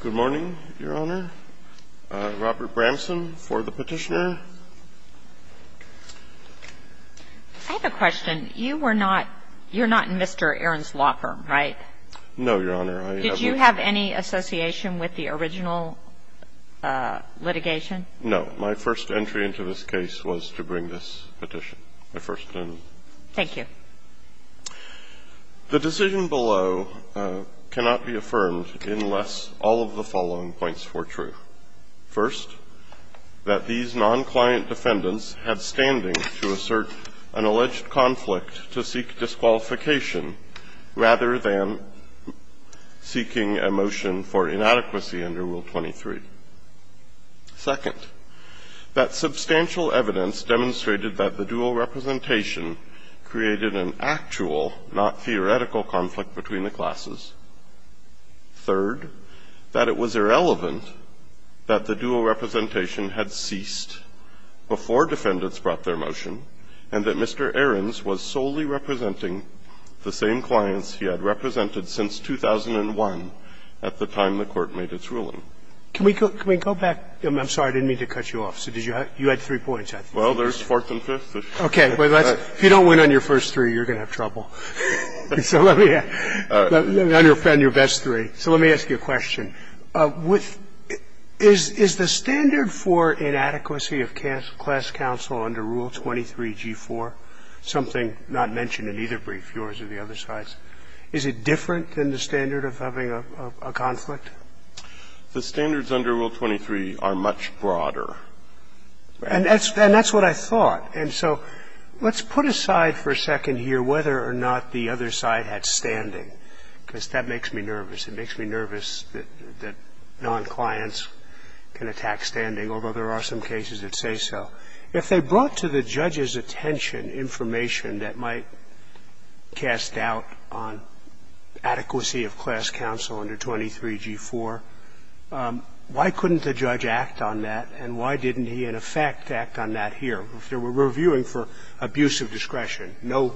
Good morning, Your Honor. Robert Bramson for the petitioner. I have a question. You're not Mr. Aarons Walker, right? No, Your Honor. Did you have any association with the original litigation? No. My first entry into this case was to bring this petition. Thank you. The decision below cannot be affirmed unless all of the following points were true. First, that these non-client defendants had standing to assert an alleged conflict to seek disqualification rather than seeking a motion for inadequacy under Rule 23. Second, that substantial evidence demonstrated that the dual representation created an actual, not theoretical, conflict between the classes. Third, that it was irrelevant that the dual representation had ceased before defendants brought their motion, and that Mr. Aarons was solely representing the same clients he had represented since 2001 at the time the Court made its ruling. Can we go back? I'm sorry. I didn't mean to cut you off. You had three points, I think. Well, there's fourth and fifth. Okay. If you don't win on your first three, you're going to have trouble. Let me ask you a question. Is the standard for inadequacy of class counsel under Rule 23g-4 something not mentioned in either brief, yours or the other side's? Is it different than the standard of having a conflict? The standards under Rule 23 are much broader. And that's what I thought. And so let's put aside for a second here whether or not the other side had standing, because that makes me nervous. It makes me nervous that non-clients can attack standing, although there are some cases that say so. If they brought to the judge's attention information that might cast doubt on adequacy of class counsel under 23g-4, why couldn't the judge act on that? And why didn't he, in effect, act on that here? If they were reviewing for abuse of discretion, no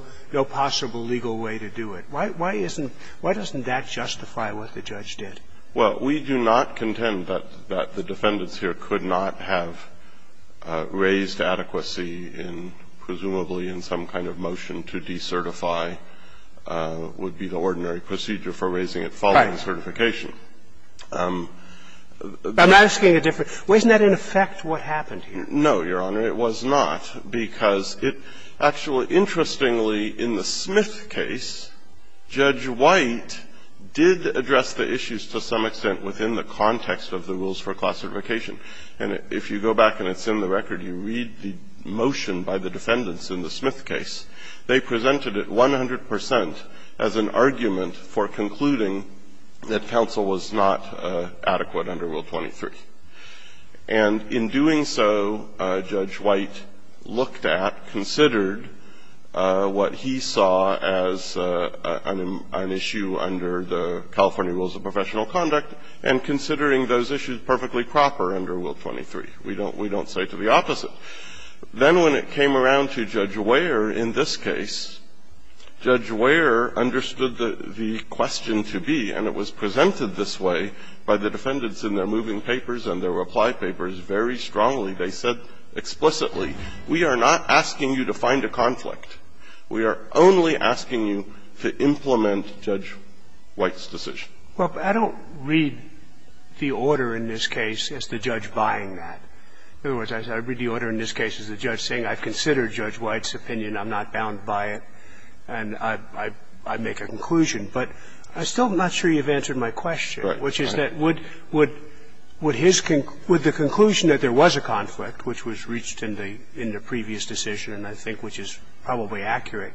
possible legal way to do it. Why doesn't that justify what the judge did? Well, we do not contend that the defendants here could not have raised adequacy in presumably in some kind of motion to decertify would be the ordinary procedure for raising it following certification. I'm asking a different question. Wasn't that, in effect, what happened here? No, Your Honor, it was not, because it actually, interestingly, in the Smith case, Judge White did address the issues to some extent within the context of the rules for class certification. And if you go back and it's in the record, you read the motion by the defendants in the Smith case, they presented it 100 percent as an argument for concluding that counsel was not adequate under Rule 23. And in doing so, Judge White looked at, considered what he saw as an issue under the California Rules of Professional Conduct and considering those issues perfectly proper under Rule 23. We don't say to the opposite. Then when it came around to Judge Wehre in this case, Judge Wehre understood the question to be, and it was presented this way by the defendants in their moving papers and their reply papers very strongly, they said explicitly, we are not asking you to find a conflict, we are only asking you to implement Judge White's decision. Well, I don't read the order in this case as the judge buying that. In other words, I read the order in this case as the judge saying I've considered Judge White's opinion, I'm not bound by it, and I make a conclusion. But I'm still not sure you've answered my question, which is that would his conclusion that there was a conflict, which was reached in the previous decision, and I think which is probably accurate,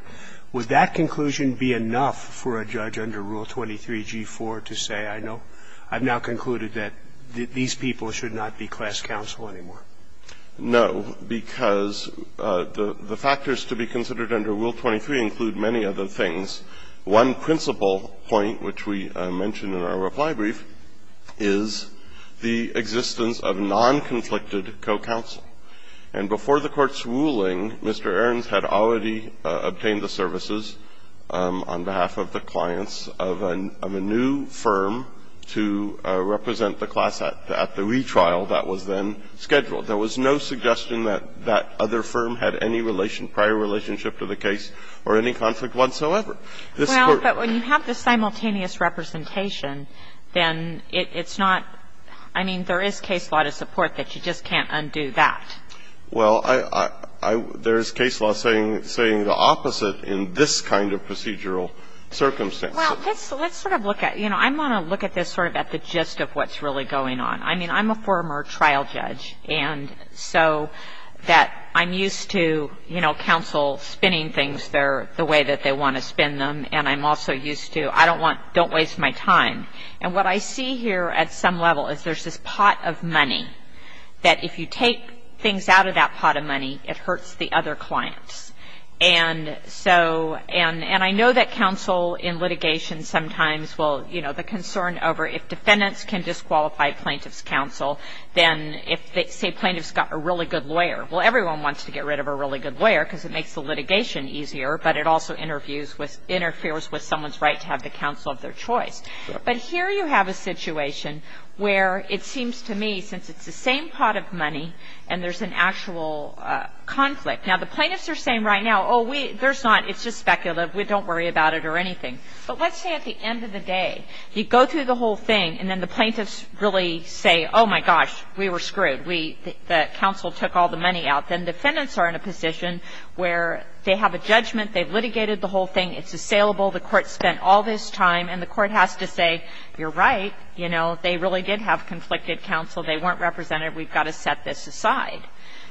would that conclusion be enough for a judge under Rule 23g4 to say, I know, I've now concluded that these people should not be class counselors anymore? No, because the factors to be considered under Rule 23 include many other things. One principal point, which we mentioned in our reply brief, is the existence of non-conflicted co-counsel. And before the Court's ruling, Mr. Ahrens had already obtained the services on behalf of the clients of a new firm to represent the class at the retrial that was then scheduled. There was no suggestion that that other firm had any prior relationship to the case or any conflict whatsoever. Well, but when you have the simultaneous representation, then it's not – I mean, there is case law to support that. You just can't undo that. Well, there's case law saying the opposite in this kind of procedural circumstance. Well, let's sort of look at – you know, I want to look at this sort of at the gist of what's really going on. I mean, I'm a former trial judge, and so that I'm used to, you know, counsel spinning things the way that they want to spin them, and I'm also used to, I don't want – don't waste my time. And what I see here at some level is there's this pot of money that if you take things out of that pot of money, it hurts the other clients. And so – and I know that counsel in litigation sometimes will – you know, the concern over if defendants can disqualify plaintiff's counsel, then if, say, plaintiff's got a really good lawyer. Well, everyone wants to get rid of a really good lawyer because it makes the litigation easier, but it also interferes with someone's right to have the counsel of their choice. But here you have a situation where it seems to me, since it's the same pot of money and there's an actual conflict – now, the plaintiffs are saying right now, oh, we – there's not – it's just speculative. We don't worry about it or anything. But let's say at the end of the day, you go through the whole thing, and then the plaintiffs really say, oh, my gosh, we were screwed. We – the counsel took all the money out. Then defendants are in a position where they have a judgment. They've litigated the whole thing. It's assailable. The court spent all this time, and the court has to say, you're right. You know, they really did have conflicted counsel. They weren't represented. We've got to set this aside.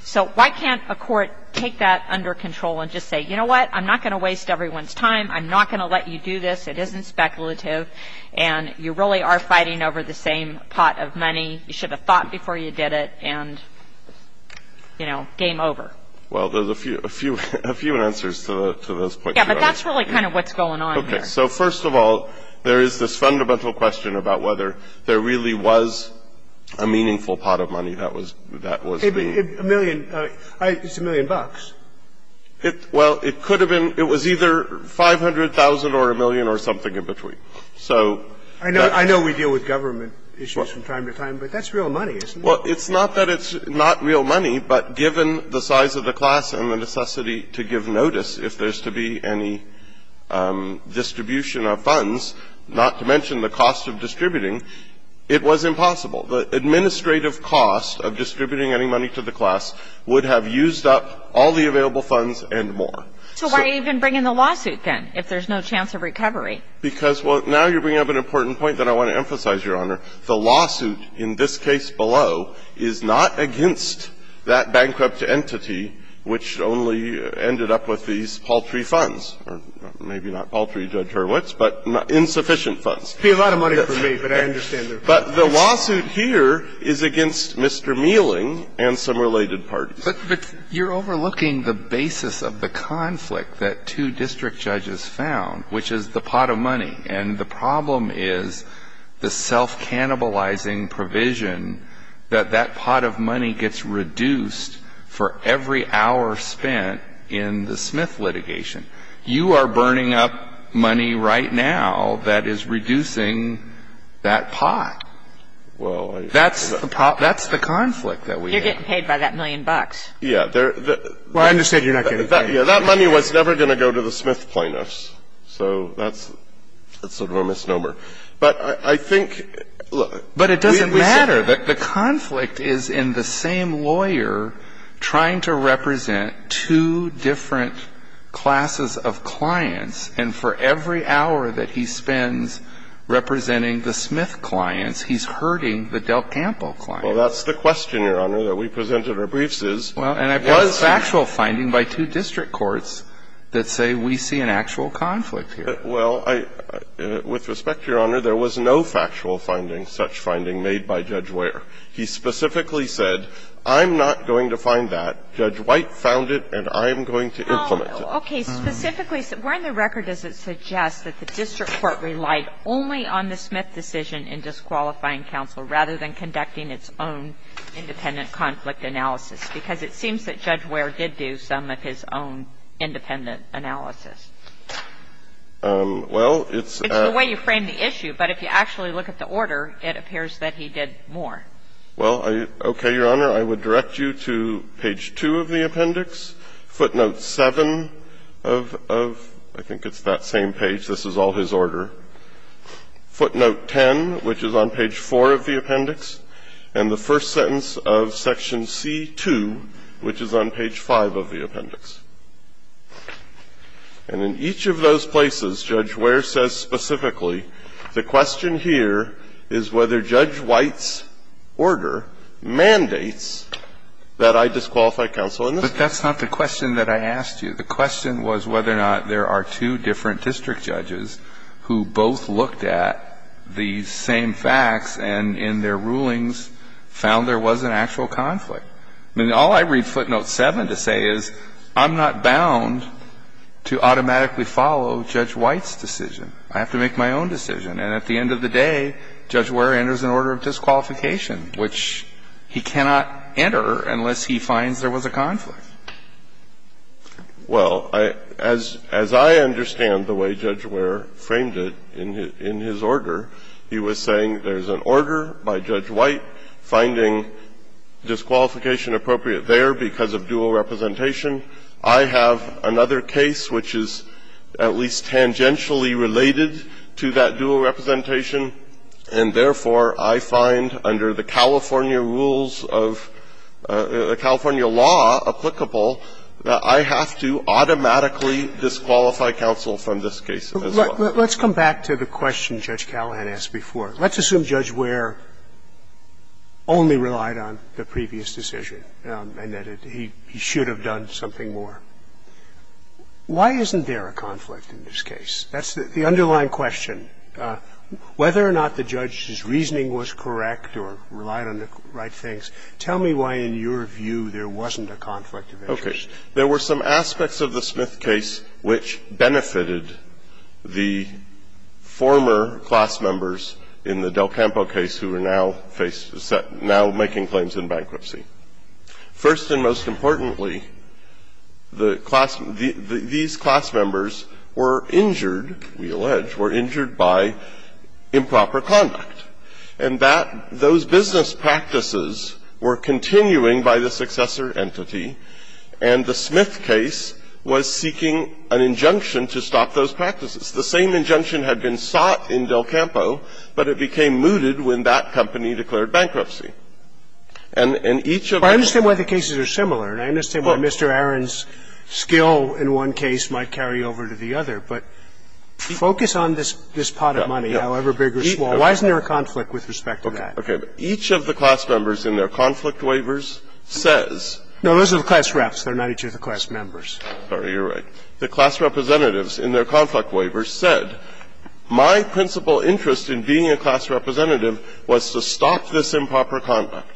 So why can't a court take that under control and just say, you know what? I'm not going to waste everyone's time. I'm not going to let you do this. It isn't speculative. And you really are fighting over the same pot of money. You should have thought before you did it. And, you know, game over. Well, there's a few – a few answers to those points. Yeah, but that's really kind of what's going on here. Okay. So first of all, there is this fundamental question about whether there really was a meaningful pot of money that was – that was being – A million – it's a million bucks. Well, it could have been – it was either 500,000 or a million or something in between. So that's – I know we deal with government issues from time to time, but that's real money, isn't it? Well, it's not that it's not real money, but given the size of the class and the necessity to give notice if there's to be any distribution of funds, not to mention the cost of distributing, it was impossible. The administrative cost of distributing any money to the class would have used up all the available funds and more. So why even bring in the lawsuit, then, if there's no chance of recovery? Because, well, now you're bringing up an important point that I want to emphasize, Your Honor. The lawsuit in this case below is not against that bankrupt entity which only ended up with these paltry funds, or maybe not paltry, Judge Hurwitz, but insufficient funds. It would be a lot of money for me, but I understand their point. But the lawsuit here is against Mr. Meeling and some related parties. But you're overlooking the basis of the conflict that two district judges found, which is the pot of money. And the problem is the self-cannibalizing provision that that pot of money gets reduced for every hour spent in the Smith litigation. You are burning up money right now that is reducing that pot. Well, I don't know. That's the conflict that we have. You're getting paid by that million bucks. Yeah. Well, I understand you're not getting paid. That money was never going to go to the Smith plaintiffs. So that's sort of a misnomer. But I think we said the conflict is in the same lawyer trying to represent two different classes of clients, and for every hour that he spends representing the Smith clients, he's hurting the Del Campo clients. Well, that's the question, Your Honor. That's the question, Your Honor, that we present in our briefs is, was there a conflict here? Well, and I've got a factual finding by two district courts that say we see an actual conflict here. Well, I — with respect to Your Honor, there was no factual finding, such finding made by Judge Wehr. He specifically said, I'm not going to find that. Judge White found it, and I'm going to implement it. Oh, okay. Specifically, where in the record does it suggest that the district court relied only on the Smith decision in disqualifying counsel, rather than conducting its own independent conflict analysis? Because it seems that Judge Wehr did do some of his own independent analysis. Well, it's at the way you frame the issue, but if you actually look at the order, it appears that he did more. Well, okay, Your Honor. I would direct you to page 2 of the appendix, footnote 7 of — I think it's that same page. This is all his order. Footnote 10, which is on page 4 of the appendix, and the first sentence of section C-2, which is on page 5 of the appendix. And in each of those places, Judge Wehr says specifically, the question here is whether Judge White's order mandates that I disqualify counsel in this case. But that's not the question that I asked you. The question was whether or not there are two different district judges who both looked at the same facts and, in their rulings, found there was an actual conflict. I mean, all I read footnote 7 to say is, I'm not bound to automatically follow Judge White's decision. I have to make my own decision. And at the end of the day, Judge Wehr enters an order of disqualification, which he cannot enter unless he finds there was a conflict. Well, as I understand the way Judge Wehr framed it in his order, he was saying there's an order by Judge White finding disqualification appropriate there because of dual representation. I have another case which is at least tangentially related to that dual representation, and therefore, I find under the California rules of — the California law applicable that I have to automatically disqualify counsel from this case as well. Roberts. Let's come back to the question Judge Callahan asked before. Let's assume Judge Wehr only relied on the previous decision and that he should have done something more. Why isn't there a conflict in this case? That's the underlying question. Whether or not the judge's reasoning was correct or relied on the right things, tell me why, in your view, there wasn't a conflict of interest. Okay. There were some aspects of the Smith case which benefited the former class members in the Del Campo case who are now facing — now making claims in bankruptcy. First and most importantly, the class — these class members were injured, we allege, were injured by improper conduct. And that — those business practices were continuing by the successor entity, and the Smith case was seeking an injunction to stop those practices. The same injunction had been sought in Del Campo, but it became mooted when that company declared bankruptcy. And each of the — I understand why the cases are similar, and I understand why Mr. Aron's skill in one case might carry over to the other, but focus on this — this pot of money, however big or small. Why isn't there a conflict with respect to that? Okay. But each of the class members in their conflict waivers says — No, those are the class reps. They're not each of the class members. Sorry. You're right. The class representatives in their conflict waivers said, my principal interest in being a class representative was to stop this improper conduct.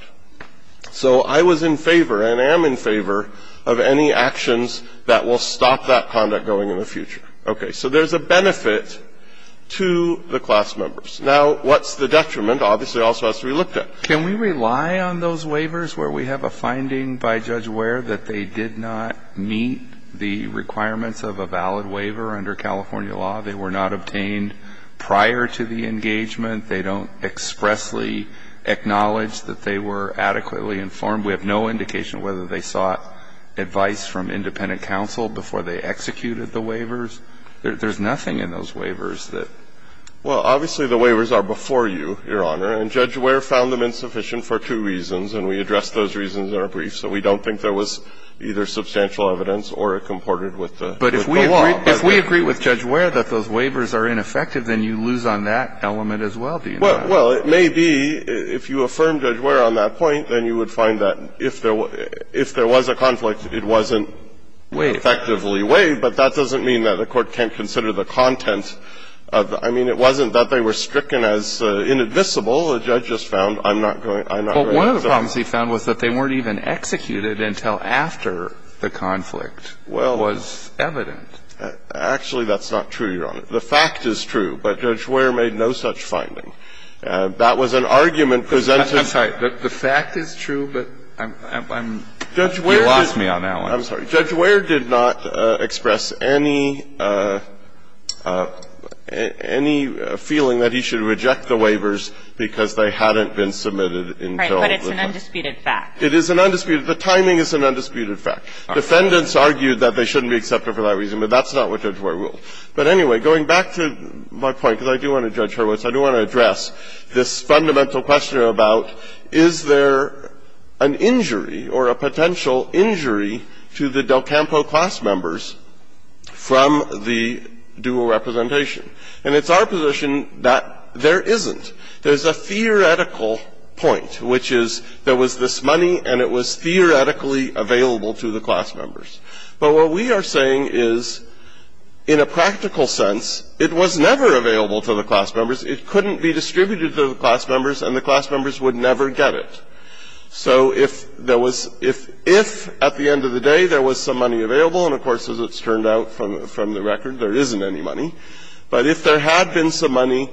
So I was in favor, and I am in favor, of any actions that will stop that conduct going in the future. Okay. So there's a benefit to the class members. Now, what's the detriment, obviously, also, as we looked at? Can we rely on those waivers where we have a finding by Judge Ware that they did not meet the requirements of a valid waiver under California law? They were not obtained prior to the engagement. They don't expressly acknowledge that they were adequately informed. We have no indication whether they sought advice from independent counsel before they executed the waivers. There's nothing in those waivers that — Well, obviously, the waivers are before you, Your Honor. And Judge Ware found them insufficient for two reasons, and we addressed those reasons in our brief. So we don't think there was either substantial evidence or it comported with the law. But if we agree with Judge Ware that those waivers are ineffective, then you lose on that element as well, do you not? Well, it may be, if you affirm Judge Ware on that point, then you would find that if there was a conflict, it wasn't effectively waived, but that doesn't mean that the court can't consider the content of the — I mean, it wasn't that they were stricken as inadmissible. The judge just found, I'm not going to accept that. But one of the problems he found was that they weren't even executed until after the conflict was evident. Well, actually, that's not true, Your Honor. The fact is true, but Judge Ware made no such finding. That was an argument presented — I'm sorry. The fact is true, but I'm — you lost me on that one. I'm sorry. Judge Ware did not express any — any feeling that he should reject the waivers because they hadn't been submitted until the time. Right, but it's an undisputed fact. It is an undisputed — the timing is an undisputed fact. Defendants argued that they shouldn't be accepted for that reason, but that's not what Judge Ware ruled. But anyway, going back to my point, because I do want to judge her words, I do want to address this fundamental question about, is there an injury or a potential injury to the Del Campo class members from the dual representation? And it's our position that there isn't. There's a theoretical point, which is there was this money and it was theoretically available to the class members. But what we are saying is, in a practical sense, it was never available to the class members. It couldn't be distributed to the class members, and the class members would never get it. So if there was — if, at the end of the day, there was some money available, and of course, as it's turned out from the record, there isn't any money, but if there had been some money,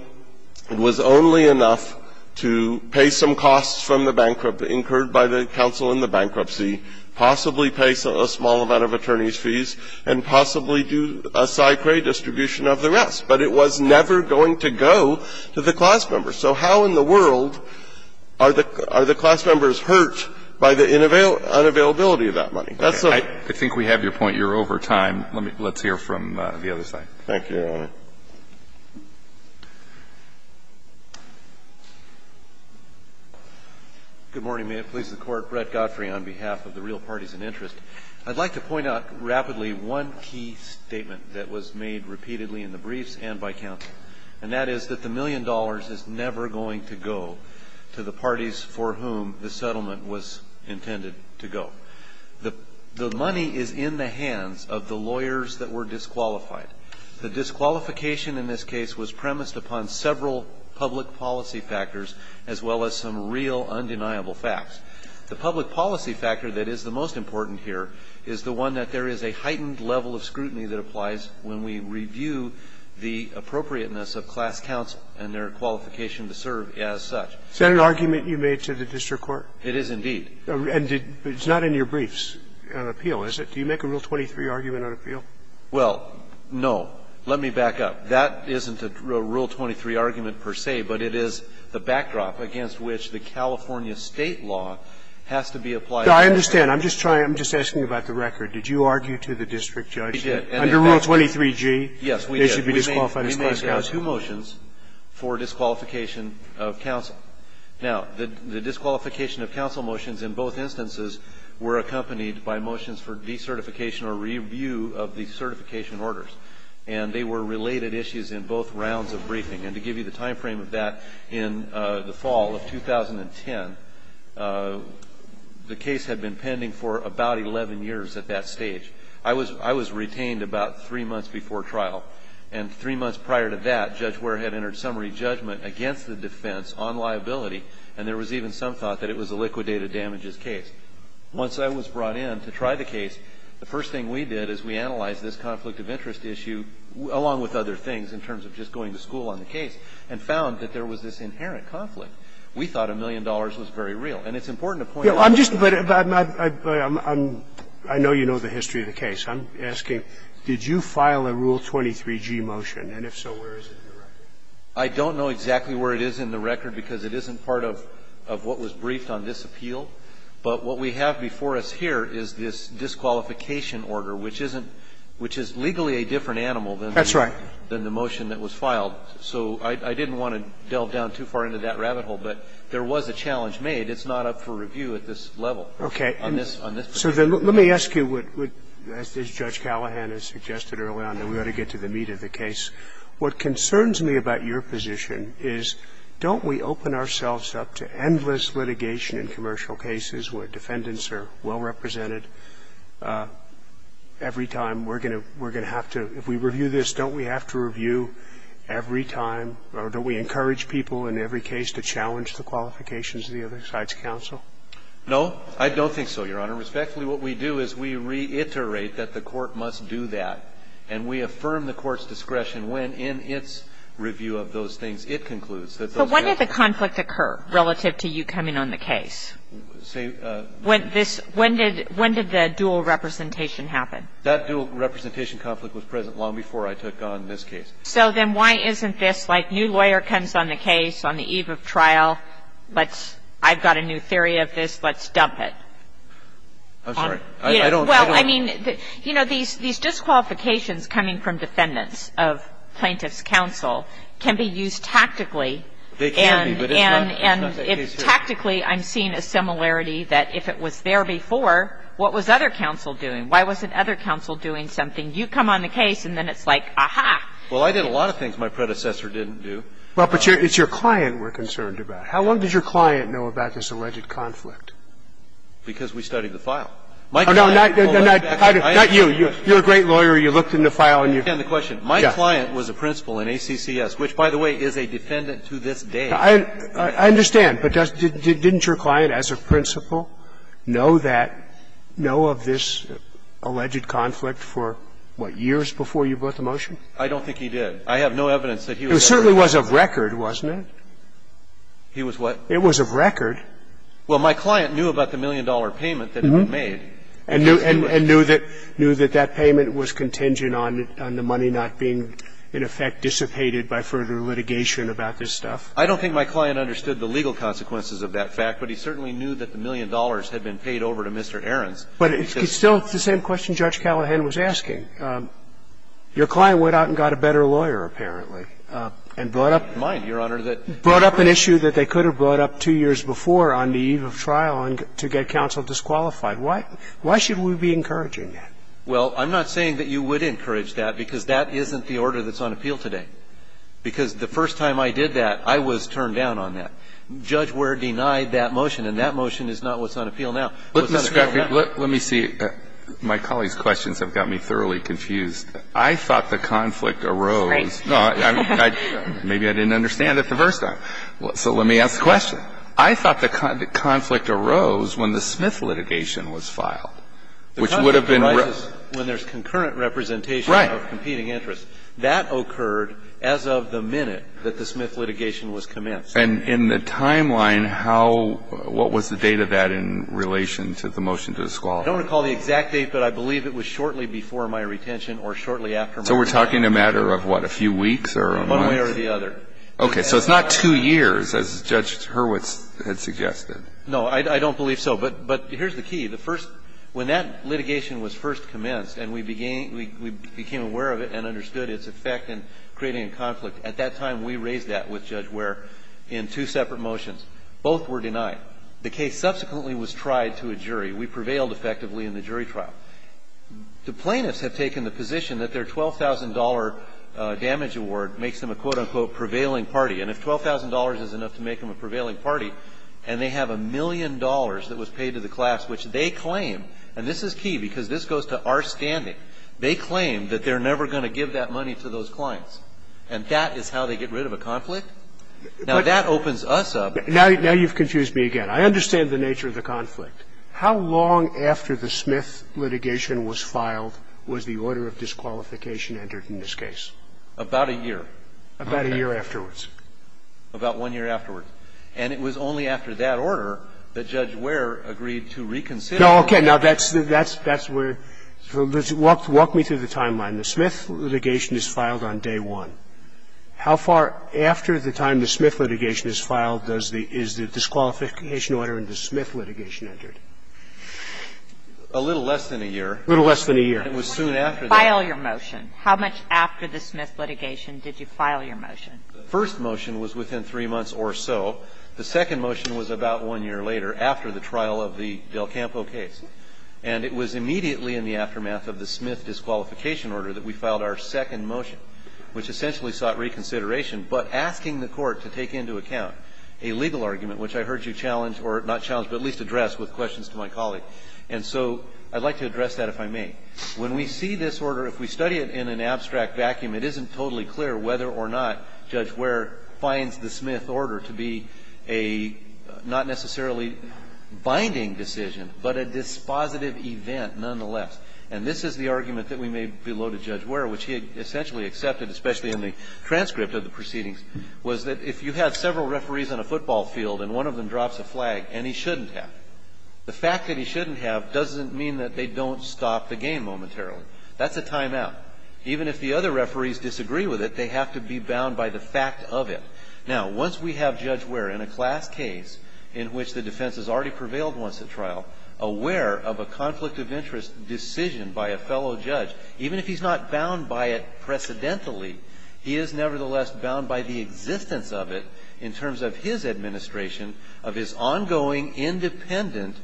it was only enough to pay some costs from the bankrupt — incurred by the counsel in the bankruptcy, possibly pay a small amount of attorney's fees, and possibly do a sci-pre distribution of the rest. But it was never going to go to the class members. So how in the world are the class members hurt by the unavailability of that money? That's the question. I think we have your point. You're over time. Let's hear from the other side. Thank you, Your Honor. Good morning. May it please the Court. Brett Godfrey on behalf of the real parties in interest. I'd like to point out rapidly one key statement that was made repeatedly in the briefs and by counsel, and that is that the million dollars is never going to go to the parties for whom the settlement was intended to go. The money is in the hands of the lawyers that were disqualified. The disqualification in this case was premised upon several public policy factors, as well as some real undeniable facts. The public policy factor that is the most important here is the one that there is a appropriateness of class counsel and their qualification to serve as such. Is that an argument you made to the district court? It is, indeed. And it's not in your briefs, an appeal, is it? Do you make a Rule 23 argument on appeal? Well, no. Let me back up. That isn't a Rule 23 argument per se, but it is the backdrop against which the California State law has to be applied. I understand. I'm just trying to ask you about the record. Did you argue to the district judge that under Rule 23g, they should be disqualified as class counsel? We made two motions for disqualification of counsel. Now, the disqualification of counsel motions in both instances were accompanied by motions for decertification or review of the certification orders. And they were related issues in both rounds of briefing. And to give you the time frame of that, in the fall of 2010, the case had been pending for about 11 years at that stage. I was retained about three months before trial. And three months prior to that, Judge Ware had entered summary judgment against the defense on liability, and there was even some thought that it was a liquidated damages case. Once I was brought in to try the case, the first thing we did is we analyzed this conflict of interest issue, along with other things, in terms of just going to school on the case, and found that there was this inherent conflict. We thought a million dollars was very real. And the question is, did you file a rule 23G motion? And if so, where is it in the record? I don't know exactly where it is in the record because it isn't part of what was briefed on this appeal. But what we have before us here is this disqualification order, which isn't – which is legally a different animal than the motion that was filed. That's right. So I didn't want to delve down too far into that rabbit hole, but there was a challenge made. It's not up for review at this level. Okay. So let me ask you, as Judge Callahan has suggested early on, that we ought to get to the meat of the case. What concerns me about your position is, don't we open ourselves up to endless litigation in commercial cases where defendants are well represented? Every time we're going to have to – if we review this, don't we have to review every time, or don't we encourage people in every case to challenge the qualifications of the other side's counsel? No, I don't think so, Your Honor. Respectfully, what we do is we reiterate that the court must do that, and we affirm the court's discretion when, in its review of those things, it concludes that those – But when did the conflict occur relative to you coming on the case? Say – When this – when did – when did the dual representation happen? That dual representation conflict was present long before I took on this case. So then why isn't this, like, new lawyer comes on the case on the eve of trial, let's – I've got a new theory of this, let's dump it? I'm sorry. I don't – Well, I mean, you know, these disqualifications coming from defendants of plaintiff's counsel can be used tactically. They can be, but it's not – it's not the case here. And tactically, I'm seeing a similarity that if it was there before, what was other counsel doing? Why wasn't other counsel doing something? You come on the case, and then it's like, aha. Well, I did a lot of things my predecessor didn't do. Well, but it's your client we're concerned about. How long did your client know about this alleged conflict? Because we studied the file. My client – Oh, no, not – not you. You're a great lawyer. You looked in the file, and you – I understand the question. My client was a principal in ACCS, which, by the way, is a defendant to this day. I understand. But didn't your client as a principal know that – know of this alleged conflict for, what, years before you brought the motion? I don't think he did. I have no evidence that he was there. He certainly was of record, wasn't it? He was what? It was of record. Well, my client knew about the million-dollar payment that had been made. And knew that that payment was contingent on the money not being, in effect, dissipated by further litigation about this stuff. I don't think my client understood the legal consequences of that fact, but he certainly knew that the million dollars had been paid over to Mr. Ahrens. But it's still the same question Judge Callahan was asking. Your client went out and got a better lawyer, apparently. And brought up an issue that they could have brought up two years before on the eve of trial to get counsel disqualified. Why should we be encouraging that? Well, I'm not saying that you would encourage that, because that isn't the order that's on appeal today. Because the first time I did that, I was turned down on that. Judge Ware denied that motion, and that motion is not what's on appeal now. Let me see. My colleague's questions have got me thoroughly confused. I thought the conflict arose. Maybe I didn't understand it the first time. So let me ask the question. I thought the conflict arose when the Smith litigation was filed, which would have been raised. When there's concurrent representation of competing interests. Right. That occurred as of the minute that the Smith litigation was commenced. And in the timeline, how — what was the date of that in relation to the motion to disqualify? I don't recall the exact date, but I believe it was shortly before my retention or shortly after my retention. So we're talking a matter of, what, a few weeks or a month? One way or the other. Okay. So it's not two years, as Judge Hurwitz had suggested. No, I don't believe so. But here's the key. The first — when that litigation was first commenced and we became aware of it and understood its effect in creating a conflict, at that time we raised that with Judge Ware in two separate motions. Both were denied. The case subsequently was tried to a jury. We prevailed effectively in the jury trial. The plaintiffs have taken the position that their $12,000 damage award makes them a, quote, unquote, prevailing party. And if $12,000 is enough to make them a prevailing party and they have a million dollars that was paid to the class, which they claim, and this is key because this goes to our standing, they claim that they're never going to give that money to those clients, and that is how they get rid of a conflict? Now, that opens us up. Now you've confused me again. I understand the nature of the conflict. How long after the Smith litigation was filed was the order of disqualification entered in this case? About a year. About a year afterwards. About one year afterwards. And it was only after that order that Judge Ware agreed to reconsider. No, okay. Now, that's where — walk me through the timeline. The Smith litigation is filed on day one. How far after the time the Smith litigation is filed does the — is the disqualification order in the Smith litigation entered? A little less than a year. A little less than a year. And it was soon after that. File your motion. How much after the Smith litigation did you file your motion? The first motion was within three months or so. The second motion was about one year later, after the trial of the Del Campo case. And it was immediately in the aftermath of the Smith disqualification order that we filed our second motion, which essentially sought reconsideration, but asking the Court to take into account a legal argument, which I heard you challenge or not challenge, but at least address with questions to my colleague. And so I'd like to address that, if I may. When we see this order, if we study it in an abstract vacuum, it isn't totally clear whether or not Judge Ware finds the Smith order to be a not necessarily binding decision, but a dispositive event nonetheless. And this is the argument that we made below to Judge Ware, which he essentially accepted, especially in the transcript of the proceedings, was that if you had several referees on a football field and one of them drops a flag, and he shouldn't have it, the fact that he shouldn't have doesn't mean that they don't stop the game momentarily. That's a timeout. Even if the other referees disagree with it, they have to be bound by the fact of it. Now, once we have Judge Ware in a class case in which the defense has already prevailed once at trial, aware of a conflict of interest decision by a fellow judge, even if he's not bound by it precedentially, he is nevertheless bound by the existence of the class case and the evidence of it in terms of his administration of his ongoing independent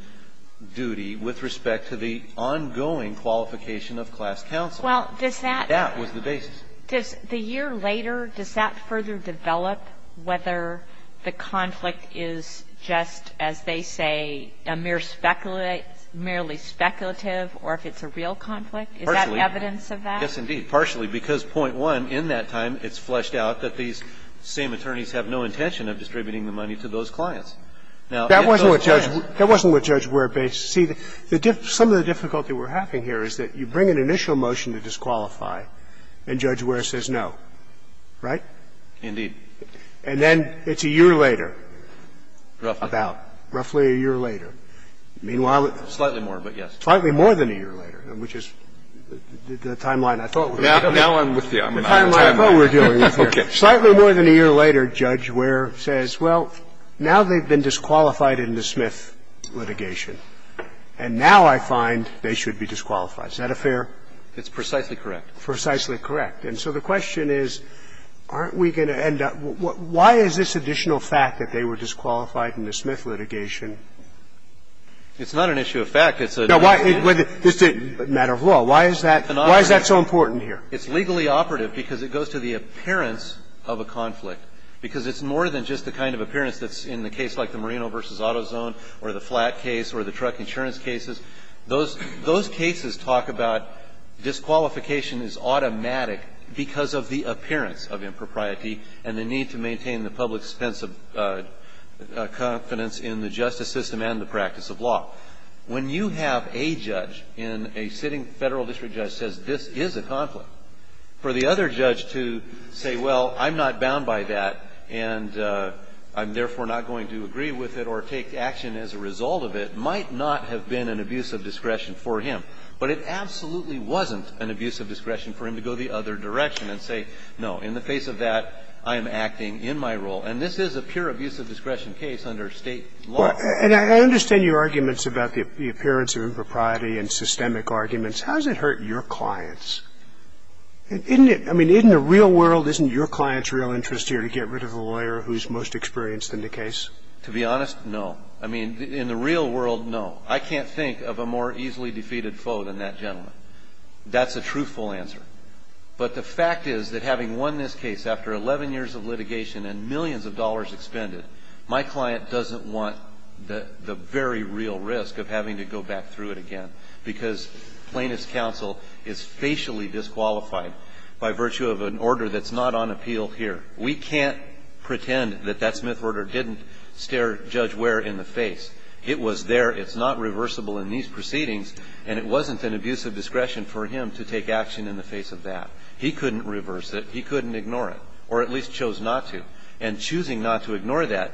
duty with respect to the ongoing qualification of class counsel. That was the basis. Does the year later, does that further develop whether the conflict is just, as they say, a mere speculative, merely speculative, or if it's a real conflict? Is that evidence of that? Yes, indeed. And we have to be able to say partially, because point one, in that time, it's fleshed out that these same attorneys have no intention of distributing the money to those clients. Now, if those clients ---- That wasn't what Judge Ware ---- see, the diff ---- some of the difficulty we're having here is that you bring an initial motion to disqualify, and Judge Right? Indeed. And then it's a year later, about. Roughly. Roughly a year later. Meanwhile, it's ---- Slightly more, but yes. Slightly more than a year later, which is the timeline I thought we were dealing with. Now I'm with you. I'm in the timeline. The timeline I thought we were dealing with here. Okay. Slightly more than a year later, Judge Ware says, well, now they've been disqualified in the Smith litigation, and now I find they should be disqualified. Is that a fair ---- It's precisely correct. Precisely correct. And so the question is, aren't we going to end up ---- why is this additional fact that they were disqualified in the Smith litigation? It's not an issue of fact. It's a ---- No, why ---- matter of law, why is that so important here? It's legally operative because it goes to the appearance of a conflict. Because it's more than just the kind of appearance that's in the case like the Marino v. AutoZone or the flat case or the truck insurance cases. Those cases talk about disqualification is automatic because of the appearance of impropriety and the need to maintain the public's sense of confidence in the justice system and the practice of law. When you have a judge in a sitting federal district judge says this is a conflict, for the other judge to say, well, I'm not bound by that and I'm therefore not going to agree with it or take action as a result of it, might not have been an abuse of discretion for him. But it absolutely wasn't an abuse of discretion for him to go the other direction and say, no, in the face of that, I am acting in my role. And this is a pure abuse of discretion case under State law. Well, and I understand your arguments about the appearance of impropriety and systemic arguments. How does it hurt your clients? I mean, in the real world, isn't your client's real interest here to get rid of a lawyer who's most experienced in the case? To be honest, no. I mean, in the real world, no. I can't think of a more easily defeated foe than that gentleman. That's a truthful answer. But the fact is that having won this case after 11 years of litigation and millions of dollars expended, my client doesn't want the very real risk of having to go back through it again because plaintiff's counsel is facially disqualified by virtue of an order that's not on appeal here. We can't pretend that that Smith order didn't stare Judge Ware in the face. It was there. It's not reversible in these proceedings. And it wasn't an abuse of discretion for him to take action in the face of that. He couldn't reverse it. He couldn't ignore it, or at least chose not to. And choosing not to ignore that,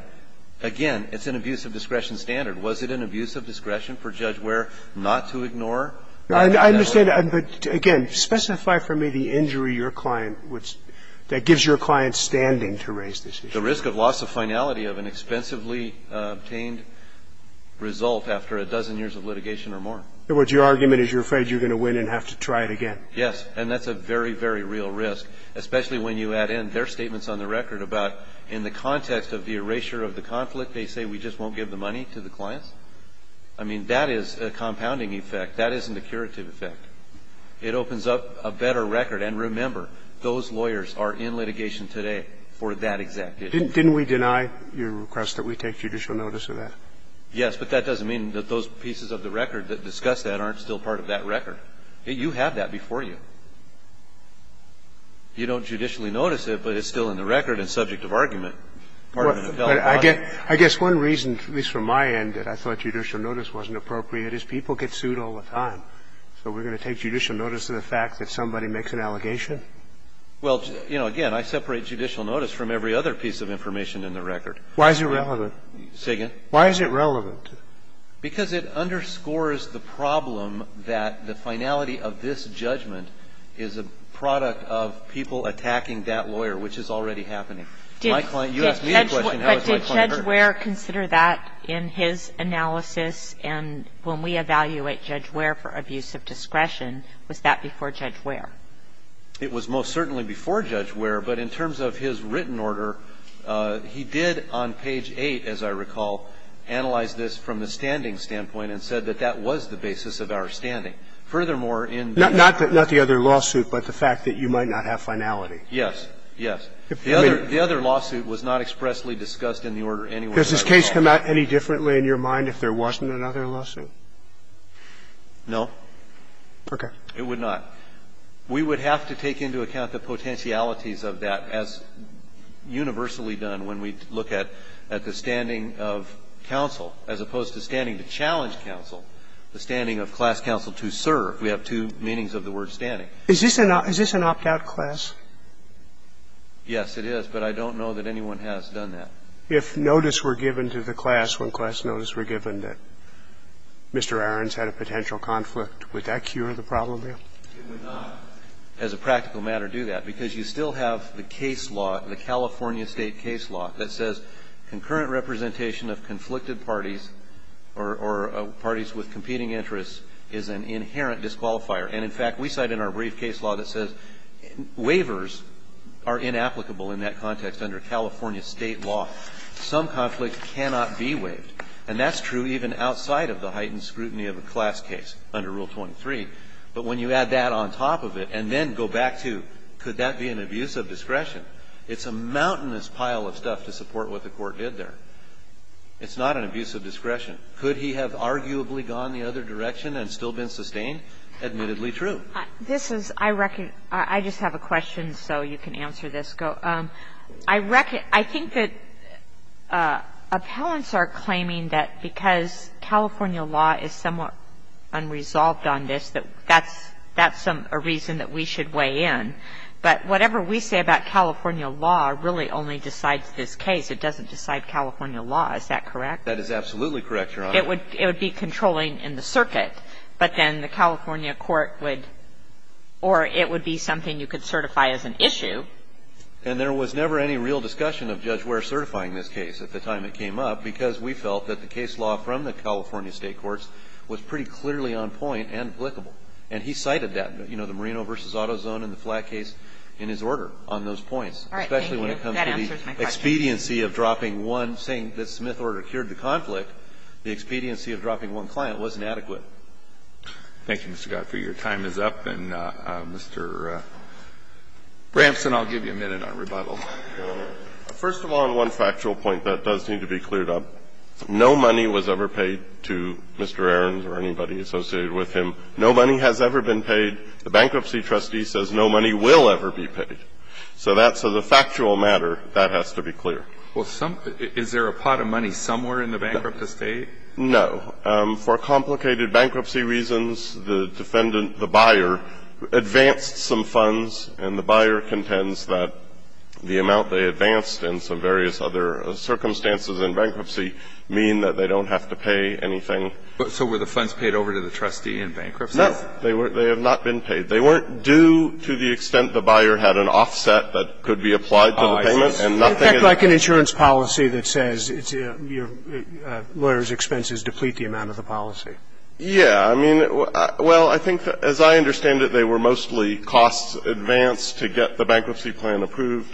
again, it's an abuse of discretion standard. Was it an abuse of discretion for Judge Ware not to ignore? I understand. But, again, specify for me the injury your client would – that gives your client standing to raise this issue. The risk of loss of finality of an expensively obtained result after a dozen years of litigation or more. In other words, your argument is you're afraid you're going to win and have to try it again. Yes. And that's a very, very real risk, especially when you add in their statements on the record about in the context of the erasure of the conflict, they say we just won't give the money to the clients. I mean, that is a compounding effect. That isn't a curative effect. It opens up a better record. And remember, those lawyers are in litigation today for that exact issue. Didn't we deny your request that we take judicial notice of that? Yes, but that doesn't mean that those pieces of the record that discuss that aren't still part of that record. You have that before you. You don't judicially notice it, but it's still in the record and subject of argument part of an appellate body. I guess one reason, at least from my end, that I thought judicial notice wasn't appropriate is people get sued all the time. So we're going to take judicial notice of the fact that somebody makes an allegation? Well, you know, again, I separate judicial notice from every other piece of information in the record. Why is it relevant? Say again. Why is it relevant? Because it underscores the problem that the finality of this judgment is a product of people attacking that lawyer, which is already happening. My client, you asked me the question, how is my client hurt? But did Judge Ware consider that in his analysis? And when we evaluate Judge Ware for abuse of discretion, was that before Judge Ware? It was most certainly before Judge Ware, but in terms of his written order, he did on page 8, as I recall, analyze this from the standing standpoint and said that that was the basis of our standing. Furthermore, in the other lawsuit, but the fact that you might not have finality. Yes. Yes. The other lawsuit was not expressly discussed in the order anywhere. Does this case come out any differently in your mind if there wasn't another lawsuit? No. Okay. It would not. We would have to take into account the potentialities of that as universally done when we look at the standing of counsel as opposed to standing to challenge counsel, the standing of class counsel to serve. We have two meanings of the word standing. Is this an opt-out class? Yes, it is, but I don't know that anyone has done that. If notice were given to the class when class notice were given that Mr. Arons had a potential conflict, would that cure the problem there? It would not, as a practical matter, do that, because you still have the case law, the California State case law, that says concurrent representation of conflicted parties or parties with competing interests is an inherent disqualifier. And, in fact, we cite in our brief case law that says waivers are inapplicable in that context under California State law. Some conflicts cannot be waived, and that's true even outside of the heightened scrutiny of a class case under Rule 23. But when you add that on top of it and then go back to could that be an abuse of discretion, it's a mountainous pile of stuff to support what the Court did there. It's not an abuse of discretion. Could he have arguably gone the other direction and still been sustained? Admittedly true. This is, I reckon, I just have a question, so you can answer this. I reckon, I think that appellants are claiming that because California law is somewhat unresolved on this, that that's a reason that we should weigh in. But whatever we say about California law really only decides this case. It doesn't decide California law. Is that correct? That is absolutely correct, Your Honor. It would be controlling in the circuit, but then the California court would, or it would be something you could certify as an issue. And there was never any real discussion of Judge Ware certifying this case at the time it came up, because we felt that the case law from the California State courts was pretty clearly on point and applicable. And he cited that, you know, the Marino v. Auto Zone and the flat case in his order on those points. All right. That answers my question. Especially when it comes to the expediency of dropping one, saying that Smith order cured the conflict, the expediency of dropping one client wasn't adequate. Thank you, Mr. Gottfried. Your time is up. And, Mr. Bramson, I'll give you a minute on rebuttal. First of all, on one factual point that does need to be cleared up, no money was ever paid to Mr. Aarons or anybody associated with him. No money has ever been paid. The bankruptcy trustee says no money will ever be paid. So that's a factual matter that has to be clear. Well, some of the – is there a pot of money somewhere in the bankrupt estate? No. For complicated bankruptcy reasons, the defendant, the buyer, advanced some funds, and the buyer contends that the amount they advanced and some various other circumstances in bankruptcy mean that they don't have to pay anything. So were the funds paid over to the trustee in bankruptcy? No. They were – they have not been paid. They weren't due to the extent the buyer had an offset that could be applied to the payment. Oh, I see. It's like an insurance policy that says your lawyer's expenses deplete the amount of the policy. Yeah. I mean, well, I think as I understand it, they were mostly costs advanced to get the bankruptcy plan approved.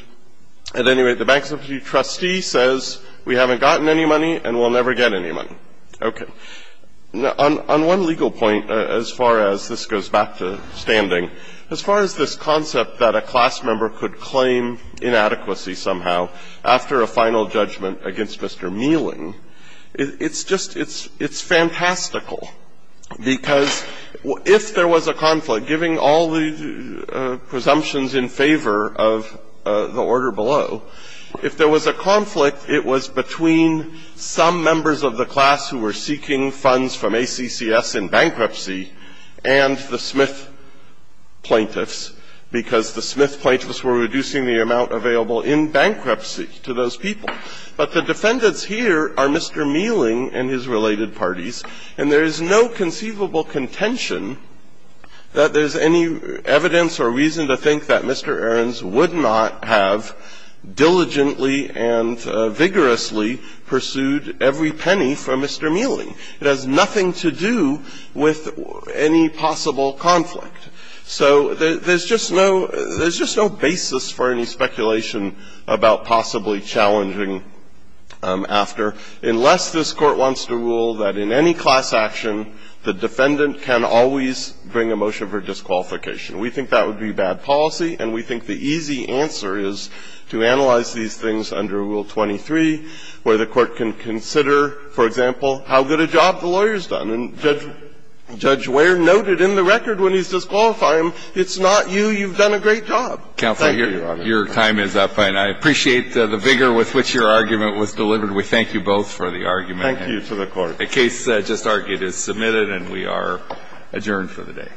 At any rate, the bankruptcy trustee says we haven't gotten any money and we'll never get any money. Okay. Now, on one legal point, as far as – this goes back to standing. As far as this concept that a class member could claim inadequacy somehow after a final judgment against Mr. Meeling, it's just – it's fantastical, because if there was a conflict, giving all the presumptions in favor of the order below, if there was a conflict, it was between some members of the class who were seeking funds from ACCS in bankruptcy and the Smith plaintiffs, because the Smith plaintiffs were reducing the amount available in bankruptcy to those people. But the defendants here are Mr. Meeling and his related parties, and there is no conceivable contention that there's any evidence or reason to think that Mr. Ahrens would not have diligently and vigorously pursued every penny for Mr. Meeling. It has nothing to do with any possible conflict. So there's just no – there's just no basis for any speculation about possibly challenging after, unless this Court wants to rule that in any class action, the defendant can always bring a motion for disqualification. We think that would be bad policy, and we think the easy answer is to analyze these things under Rule 23, where the Court can consider, for example, how good a job the lawyer's done. And Judge Wehr noted in the record when he's disqualified him, it's not you, you've done a great job. Thank you, Your Honor. Breyer. Your time is up, and I appreciate the vigor with which your argument was delivered. We thank you both for the argument. Thank you to the Court. The case just argued is submitted, and we are adjourned for the day.